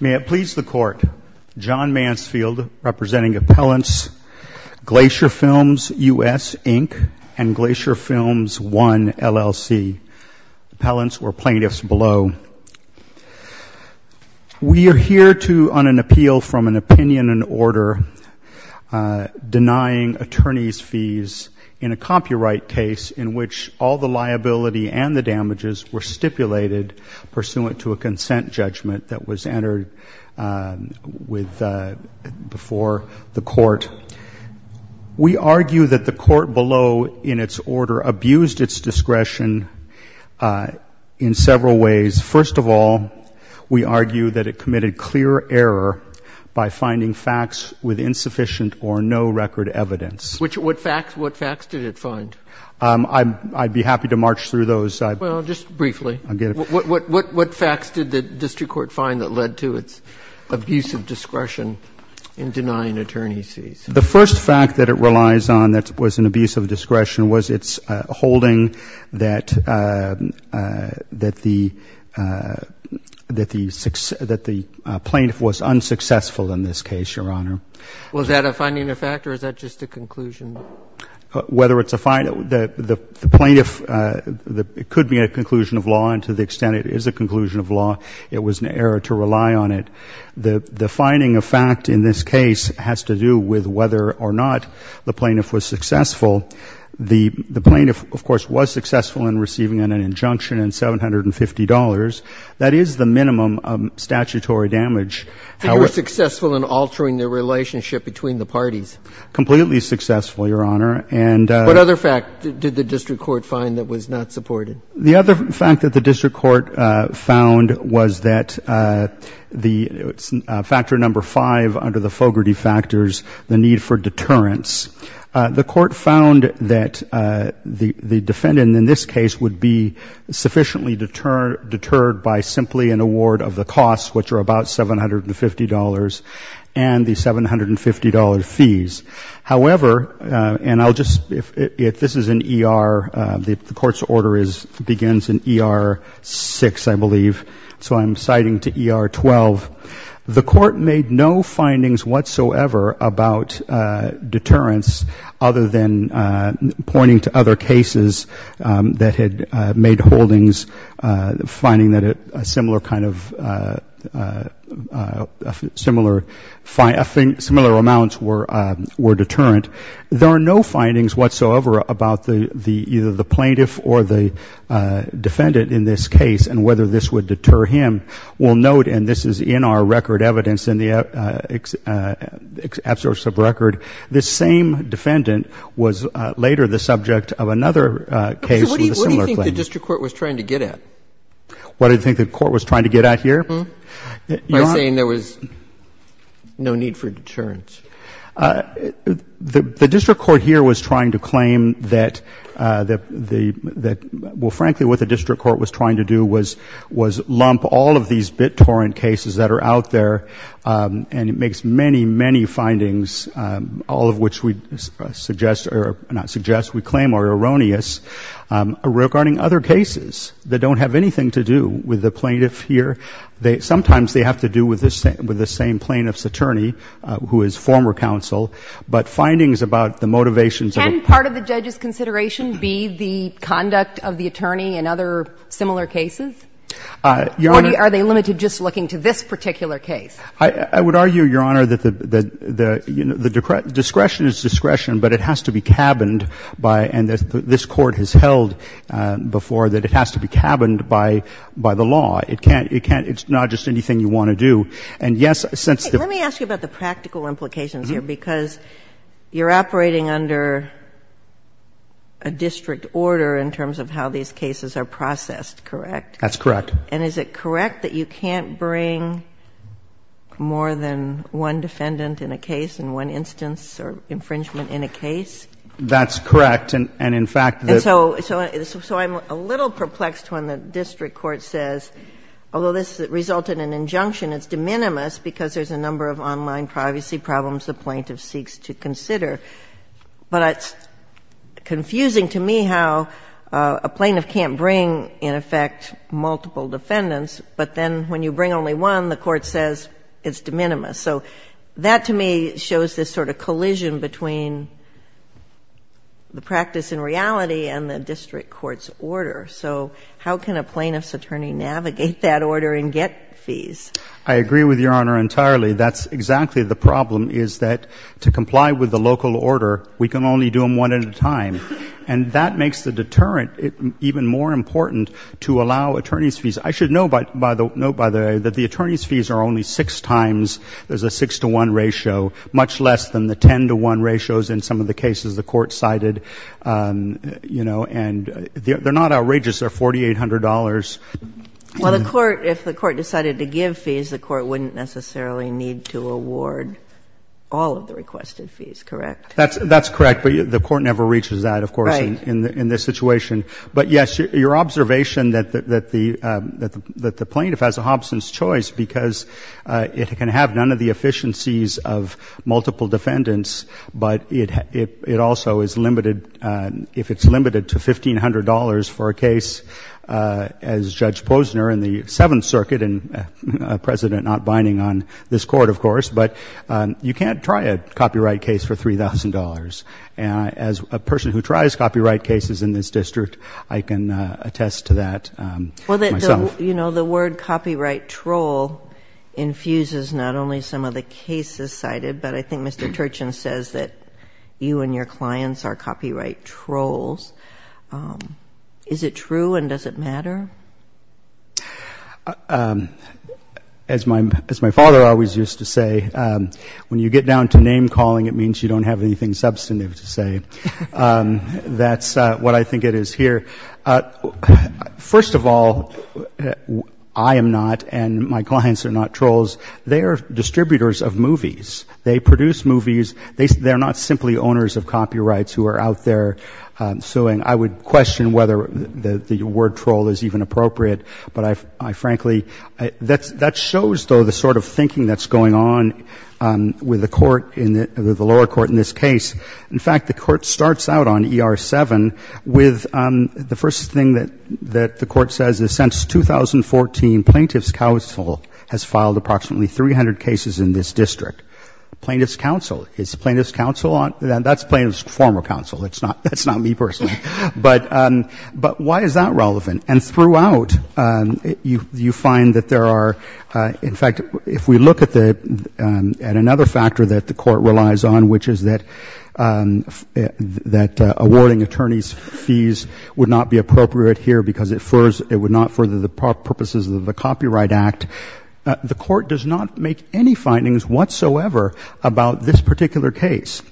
May it please the Court, John Mansfield, representing Appellants Glacier Films US, Inc. and Glacier Films I, LLC. Appellants or plaintiffs below. We are here to, on an appeal from an opinion and order, denying attorneys' fees in a copyright case in which all the liability and the damages were stipulated pursuant to a consent judgment that was entered before the Court. We argue that the Court below, in its order, abused its discretion in several ways. First of all, we argue that it committed clear error by finding facts with insufficient or no record evidence. What facts did it find? I'd be happy to march through those. Well, just briefly. I'll get it. What facts did the district court find that led to its abusive discretion in denying attorneys' fees? The first fact that it relies on that was an abusive discretion was its holding that the plaintiff was unsuccessful in this case, Your Honor. Was that a finding of fact, or is that just a conclusion? Whether it's a finding, the plaintiff, it could be a conclusion of law, and to the extent it is a conclusion of law, it was an error to rely on it. The finding of fact in this case has to do with whether or not the plaintiff was successful. The plaintiff, of course, was successful in receiving an injunction and $750. That is the minimum of statutory damage. They were successful in altering the relationship between the parties. Completely successful, Your Honor. What other fact did the district court find that was not supported? The other fact that the district court found was that the factor number five under the Fogarty factors, the need for deterrence. The court found that the defendant in this case would be sufficiently deterred by simply an award of the costs, which are about $750, and the $750 fees. However, and I'll just, if this is an ER, the court's order begins in ER 6, I believe, so I'm citing to ER 12. The court made no findings whatsoever about deterrence other than pointing to other cases that had made holdings, finding that a similar kind of, similar amounts were deterrent. There are no findings whatsoever about either the plaintiff or the defendant in this case and whether this would deter him. We'll note, and this is in our record evidence in the absurd sub record, this same defendant was later the subject of another case with a similar claim. What do you think the district court was trying to get at? What do you think the court was trying to get at here? By saying there was no need for deterrence. The district court here was trying to claim that, well, frankly, what the district court was trying to do was lump all of these BitTorrent cases that are out there, and it makes many, many findings, all of which we suggest, or not suggest, we claim are erroneous, regarding other cases that don't have anything to do with the plaintiff here. Sometimes they have to do with the same plaintiff's attorney who is former counsel, but findings about the motivations of the plaintiff. Can part of the judge's consideration be the conduct of the attorney in other similar cases, or are they limited just looking to this particular case? I would argue, Your Honor, that the discretion is discretion, but it has to be cabined by, and this Court has held before, that it has to be cabined by the law. It can't, it can't, it's not just anything you want to do. And, yes, since the- Let me ask you about the practical implications here, because you're operating under a district order in terms of how these cases are processed, correct? That's correct. And is it correct that you can't bring more than one defendant in a case in one instance or infringement in a case? That's correct. And, in fact, the- And so I'm a little perplexed when the district court says, although this resulted in an injunction, it's de minimis because there's a number of online privacy problems the plaintiff seeks to consider. But it's confusing to me how a plaintiff can't bring, in effect, multiple defendants, but then when you bring only one, the court says it's de minimis. So that, to me, shows this sort of collision between the practice in reality and the district court's order. So how can a plaintiff's attorney navigate that order and get fees? I agree with Your Honor entirely. That's exactly the problem, is that to comply with the local order, we can only do them one at a time. I should note, by the way, that the attorney's fees are only six times as a 6-to-1 ratio, much less than the 10-to-1 ratios in some of the cases the court cited, you know. And they're not outrageous. They're $4,800. Well, the court, if the court decided to give fees, the court wouldn't necessarily need to award all of the requested fees, correct? That's correct. But the court never reaches that, of course, in this situation. Right. But, yes, your observation that the plaintiff has a Hobson's choice because it can have none of the efficiencies of multiple defendants, but it also is limited, if it's limited, to $1,500 for a case as Judge Posner in the Seventh Circuit and President not binding on this court, of course. But you can't try a copyright case for $3,000. And as a person who tries copyright cases in this district, I can attest to that myself. Well, you know, the word copyright troll infuses not only some of the cases cited, but I think Mr. Turchin says that you and your clients are copyright trolls. Is it true and does it matter? As my father always used to say, when you get down to name-calling, it means you are substantive, to say. That's what I think it is here. First of all, I am not and my clients are not trolls. They are distributors of movies. They produce movies. They're not simply owners of copyrights who are out there suing. I would question whether the word troll is even appropriate, but I frankly that shows, though, the sort of thinking that's going on with the lower court in this case. In fact, the court starts out on ER-7 with the first thing that the court says is since 2014, Plaintiff's Counsel has filed approximately 300 cases in this district. Plaintiff's Counsel. Is Plaintiff's Counsel on? That's Plaintiff's former counsel. That's not me personally. But why is that relevant? And throughout, you find that there are, in fact, if we look at another factor that the court relies on, which is that awarding attorneys' fees would not be appropriate here because it would not further the purposes of the Copyright Act. The court does not make any findings whatsoever about this particular case.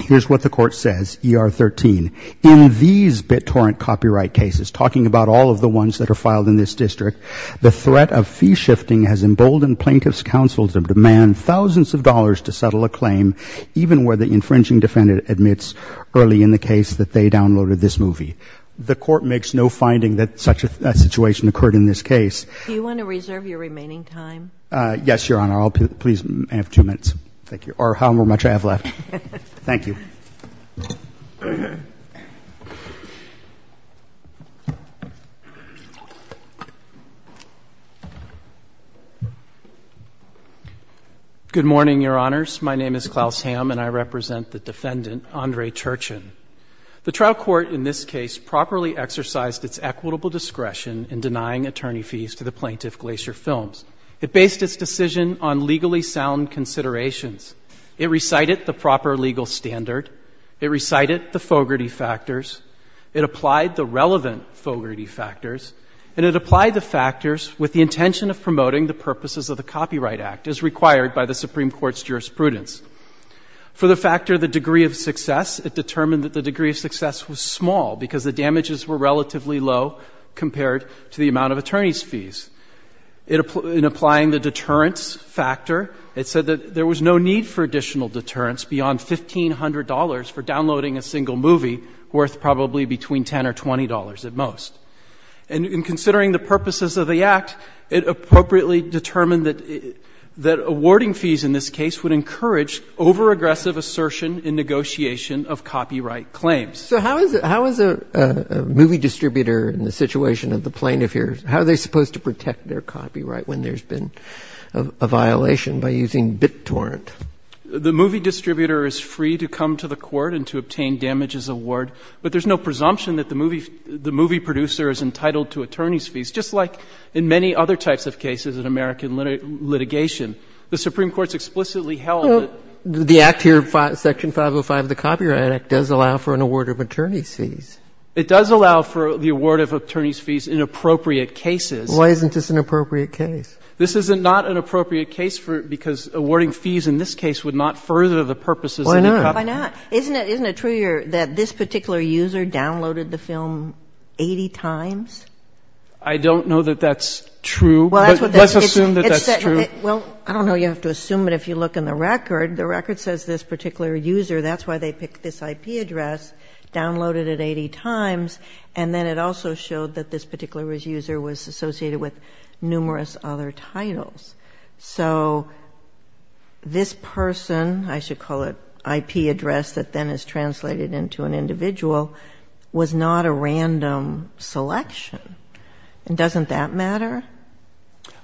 Here's what the court says, ER-13. In these BitTorrent copyright cases, talking about all of the ones that are filed in this district, the threat of fee shifting has emboldened Plaintiff's Counsel to demand thousands of dollars to settle a claim even where the infringing defendant admits early in the case that they downloaded this movie. The court makes no finding that such a situation occurred in this case. Do you want to reserve your remaining time? Yes, Your Honor. I'll please have two minutes. Thank you. Or how much I have left. Thank you. Good morning, Your Honors. My name is Klaus Hamm, and I represent the defendant, Andre Churchin. The trial court in this case properly exercised its equitable discretion in denying attorney fees to the plaintiff, Glacier Films. It based its decision on legally sound considerations. It recited the proper legal standard. It recited the fogarty factors. It applied the relevant fogarty factors. And it applied the factors with the intention of promoting the purposes of the Copyright Act as required by the Supreme Court's jurisprudence. For the factor of the degree of success, it determined that the degree of success was small because the damages were relatively low compared to the amount of attorney's fees. In applying the deterrence factor, it said that there was no need for additional deterrence beyond $1,500 for downloading a single movie worth probably between $10 or $20 at most. And in considering the purposes of the Act, it appropriately determined that awarding fees in this case would encourage overaggressive assertion in negotiation of copyright claims. So how is a movie distributor in the situation of the plaintiff here, how are they supposed to protect their copyright when there's been a violation by using BitTorrent? The movie distributor is free to come to the court and to obtain damages award, but there's no presumption that the movie producer is entitled to attorney's fees, just like in many other types of cases in American litigation. The Supreme Court's explicitly held that the Act here, Section 505 of the Copyright Act, does allow for the award of attorney's fees in appropriate cases. Why isn't this an appropriate case? This is not an appropriate case because awarding fees in this case would not further the purposes of the copyright. Why not? Isn't it true that this particular user downloaded the film 80 times? I don't know that that's true. But let's assume that that's true. Well, I don't know. You have to assume it if you look in the record. The record says this particular user, that's why they picked this IP address, downloaded it 80 times, and then it also showed that this particular user was associated with numerous other titles. So this person, I should call it IP address that then is translated into an individual, was not a random selection. And doesn't that matter?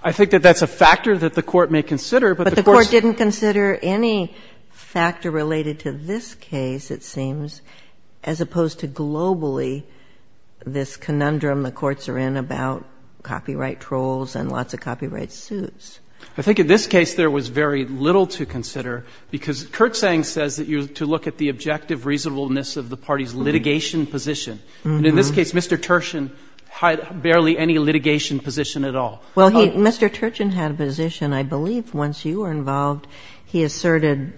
I think that that's a factor that the Court may consider, but the Court's. I don't consider any factor related to this case, it seems, as opposed to globally this conundrum the courts are in about copyright trolls and lots of copyright suits. I think in this case there was very little to consider because Kurtzang says that you're to look at the objective reasonableness of the party's litigation position. And in this case, Mr. Turchin had barely any litigation position at all. Well, Mr. Turchin had a position, I believe, once you were involved. He asserted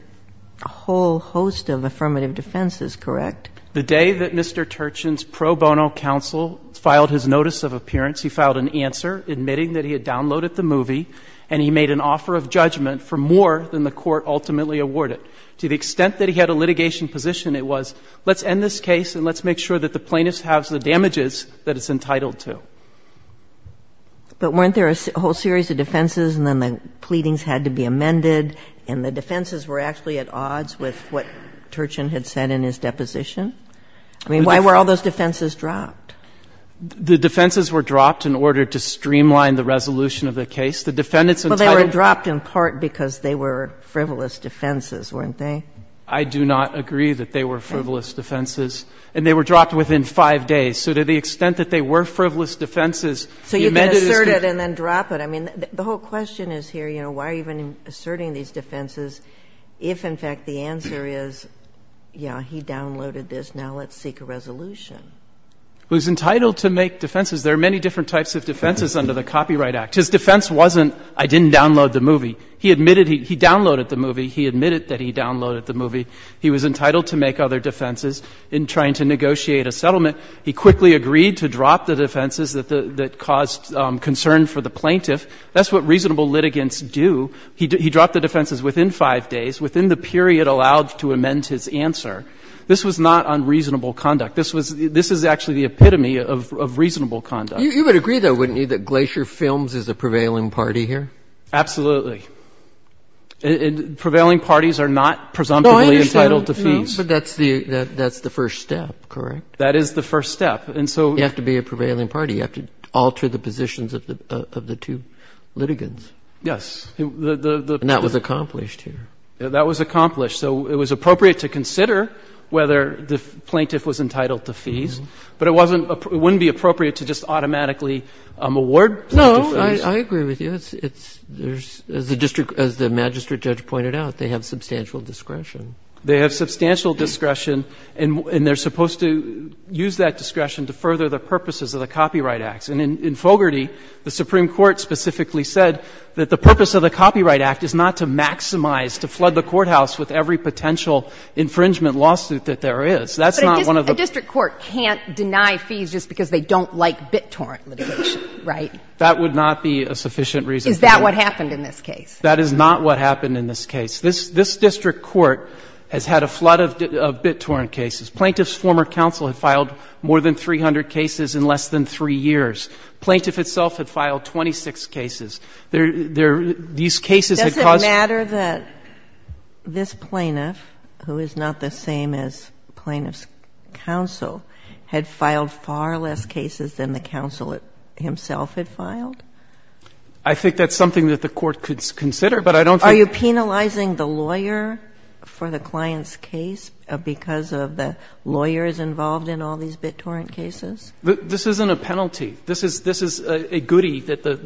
a whole host of affirmative defenses, correct? The day that Mr. Turchin's pro bono counsel filed his notice of appearance, he filed an answer admitting that he had downloaded the movie and he made an offer of judgment for more than the Court ultimately awarded. To the extent that he had a litigation position, it was let's end this case and let's make sure that the plaintiff has the damages that it's entitled to. But weren't there a whole series of defenses and then the pleadings had to be amended and the defenses were actually at odds with what Turchin had said in his deposition? I mean, why were all those defenses dropped? The defenses were dropped in order to streamline the resolution of the case. The defendants entitled to the case were dropped in part because they were frivolous defenses, weren't they? I do not agree that they were frivolous defenses. And they were dropped within 5 days. So to the extent that they were frivolous defenses, the amended is to... So you can assert it and then drop it. I mean, the whole question is here, you know, why are you even asserting these defenses if, in fact, the answer is, you know, he downloaded this, now let's seek a resolution? He was entitled to make defenses. There are many different types of defenses under the Copyright Act. His defense wasn't I didn't download the movie. He admitted he downloaded the movie. He admitted that he downloaded the movie. He was entitled to make other defenses. He was entitled to make other defenses in trying to negotiate a settlement. He quickly agreed to drop the defenses that caused concern for the plaintiff. That's what reasonable litigants do. He dropped the defenses within 5 days, within the period allowed to amend his answer. This was not unreasonable conduct. This is actually the epitome of reasonable conduct. You would agree, though, wouldn't you, that Glacier Films is a prevailing party here? Absolutely. Prevailing parties are not presumptively entitled to fees. But that's the first step, correct? That is the first step. And so you have to be a prevailing party. You have to alter the positions of the two litigants. Yes. And that was accomplished here. That was accomplished. So it was appropriate to consider whether the plaintiff was entitled to fees. But it wasn't it wouldn't be appropriate to just automatically award them. No, I agree with you. As the magistrate judge pointed out, they have substantial discretion. They have substantial discretion, and they're supposed to use that discretion to further the purposes of the Copyright Acts. And in Fogarty, the Supreme Court specifically said that the purpose of the Copyright Act is not to maximize, to flood the courthouse with every potential infringement lawsuit that there is. That's not one of the ---- But a district court can't deny fees just because they don't like BitTorrent litigation, right? That would not be a sufficient reason. Is that what happened in this case? That is not what happened in this case. This district court has had a flood of BitTorrent cases. Plaintiff's former counsel had filed more than 300 cases in less than 3 years. Plaintiff itself had filed 26 cases. These cases had caused ---- Does it matter that this plaintiff, who is not the same as Plaintiff's counsel, had filed far less cases than the counsel himself had filed? I think that's something that the Court could consider, but I don't think ---- Are you penalizing the lawyer for the client's case because the lawyer is involved in all these BitTorrent cases? This isn't a penalty. This is a goody that the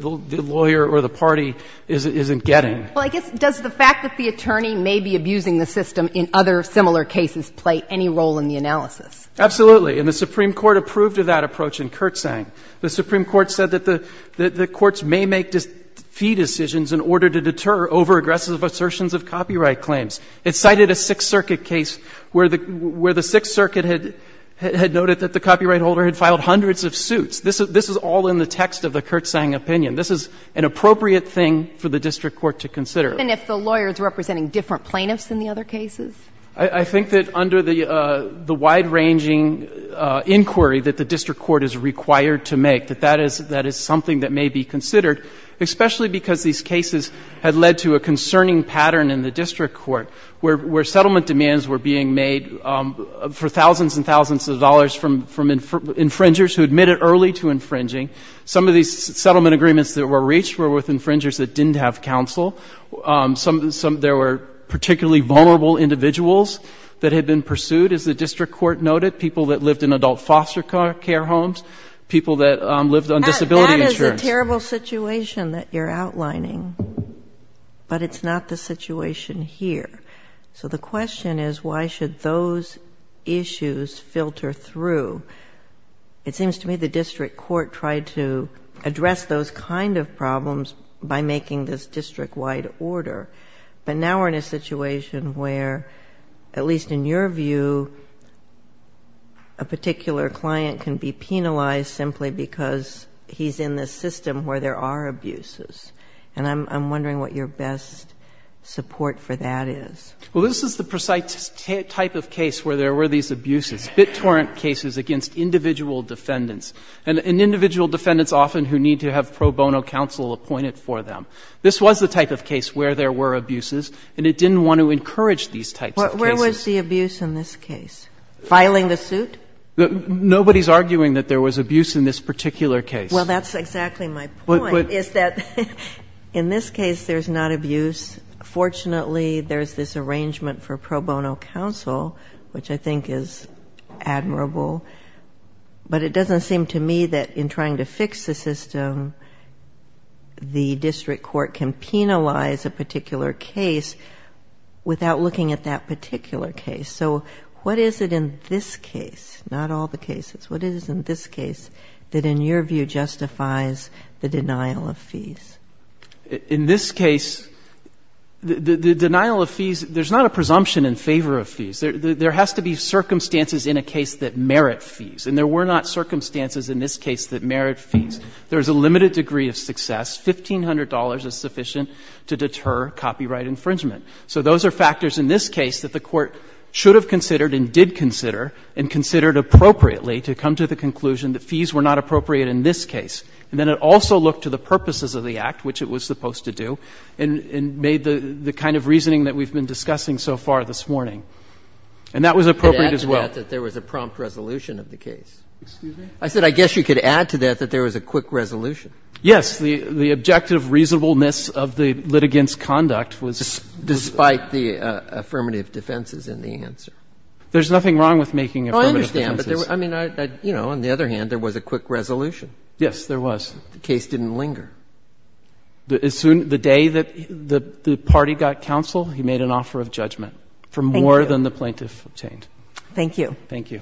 lawyer or the party isn't getting. Well, I guess does the fact that the attorney may be abusing the system in other similar cases play any role in the analysis? Absolutely. And the Supreme Court approved of that approach in Kurtzsang. The Supreme Court said that the courts may make fee decisions in order to deter overaggressive assertions of copyright claims. It cited a Sixth Circuit case where the Sixth Circuit had noted that the copyright holder had filed hundreds of suits. This is all in the text of the Kurtzsang opinion. This is an appropriate thing for the district court to consider. Even if the lawyer is representing different plaintiffs in the other cases? I think that under the wide-ranging inquiry that the district court is required to make, that that is something that may be considered, especially because these cases had led to a concerning pattern in the district court where settlement demands were being made for thousands and thousands of dollars from infringers who admitted early to infringing. Some of these settlement agreements that were reached were with infringers that didn't have counsel. There were particularly vulnerable individuals that had been pursued, as the district court noted, people that lived in adult foster care homes, people that lived on disability insurance. It's a terrible situation that you're outlining, but it's not the situation here. So the question is why should those issues filter through? It seems to me the district court tried to address those kind of problems by making this district-wide order. But now we're in a situation where, at least in your view, a particular client can be penalized simply because he's in the system where there are abuses. And I'm wondering what your best support for that is. Well, this is the precise type of case where there were these abuses, BitTorrent cases against individual defendants, and individual defendants often who need to have pro bono counsel appointed for them. This was the type of case where there were abuses, and it didn't want to encourage these types of cases. But where was the abuse in this case? Filing a suit? Nobody's arguing that there was abuse in this particular case. Well, that's exactly my point, is that in this case there's not abuse. Fortunately, there's this arrangement for pro bono counsel, which I think is admirable. But it doesn't seem to me that in trying to fix the system, the district court can penalize a particular case without looking at that particular case. So what is it in this case, not all the cases, what is it in this case that in your view justifies the denial of fees? In this case, the denial of fees, there's not a presumption in favor of fees. There has to be circumstances in a case that merit fees. And there were not circumstances in this case that merit fees. There's a limited degree of success. $1,500 is sufficient to deter copyright infringement. So those are factors in this case that the Court should have considered and did consider and considered appropriately to come to the conclusion that fees were not appropriate in this case. And then it also looked to the purposes of the Act, which it was supposed to do, and made the kind of reasoning that we've been discussing so far this morning. And that was appropriate as well. You could add to that that there was a prompt resolution of the case. Excuse me? I said I guess you could add to that that there was a quick resolution. Yes. The objective reasonableness of the litigant's conduct was. Despite the affirmative defenses in the answer. There's nothing wrong with making affirmative defenses. I understand. But, I mean, you know, on the other hand, there was a quick resolution. Yes, there was. The case didn't linger. The day that the party got counsel, he made an offer of judgment for more than the plaintiff obtained. Thank you. Thank you.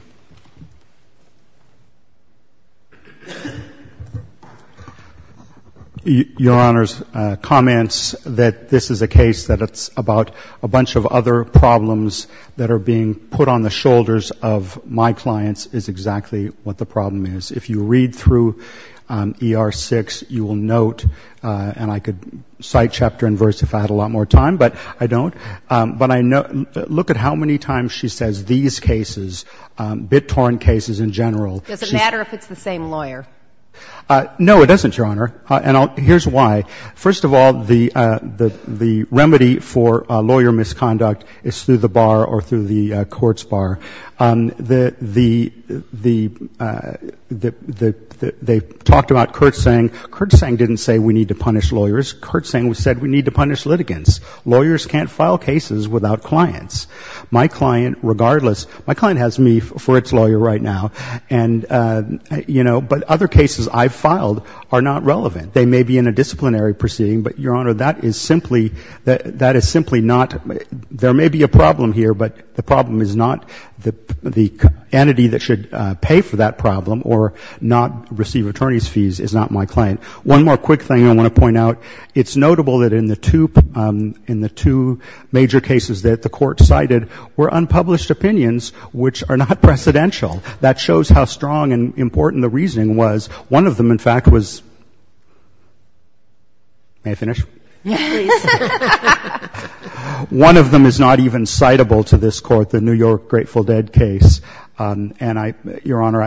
Your Honor's comments that this is a case that it's about a bunch of other problems that are being put on the shoulders of my clients is exactly what the problem is. If you read through ER 6, you will note, and I could cite chapter and verse if I had a lot more time, but I don't. But I look at how many times she says these cases, bit-torn cases in general. Does it matter if it's the same lawyer? No, it doesn't, Your Honor. And here's why. First of all, the remedy for lawyer misconduct is through the bar or through the court's bar. They talked about Kurtzsang. Kurtzsang didn't say we need to punish lawyers. Kurtzsang said we need to punish litigants. Lawyers can't file cases without clients. My client, regardless, my client has me for its lawyer right now. And, you know, but other cases I've filed are not relevant. They may be in a disciplinary proceeding, but, Your Honor, that is simply not, there may be a problem here, but the problem is not the entity that should pay for that problem or not receive attorney's fees is not my client. One more quick thing I want to point out. It's notable that in the two major cases that the Court cited were unpublished opinions which are not precedential. That shows how strong and important the reasoning was. One of them, in fact, was, may I finish? Yes, please. One of them is not even citable to this Court, the New York Grateful Dead case. And, Your Honor,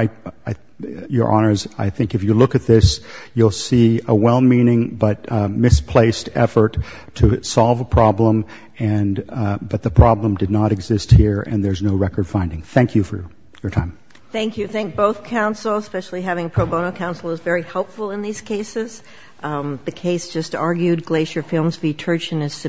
I think if you look at this, you'll see a well-meaning but misplaced effort to solve a problem, but the problem did not exist here and there's no record finding. Thank you for your time. Thank you. I think both counsels, especially having pro bono counsel, is very helpful in these cases. The case just argued, Glacier Films v. Turchin, is submitted.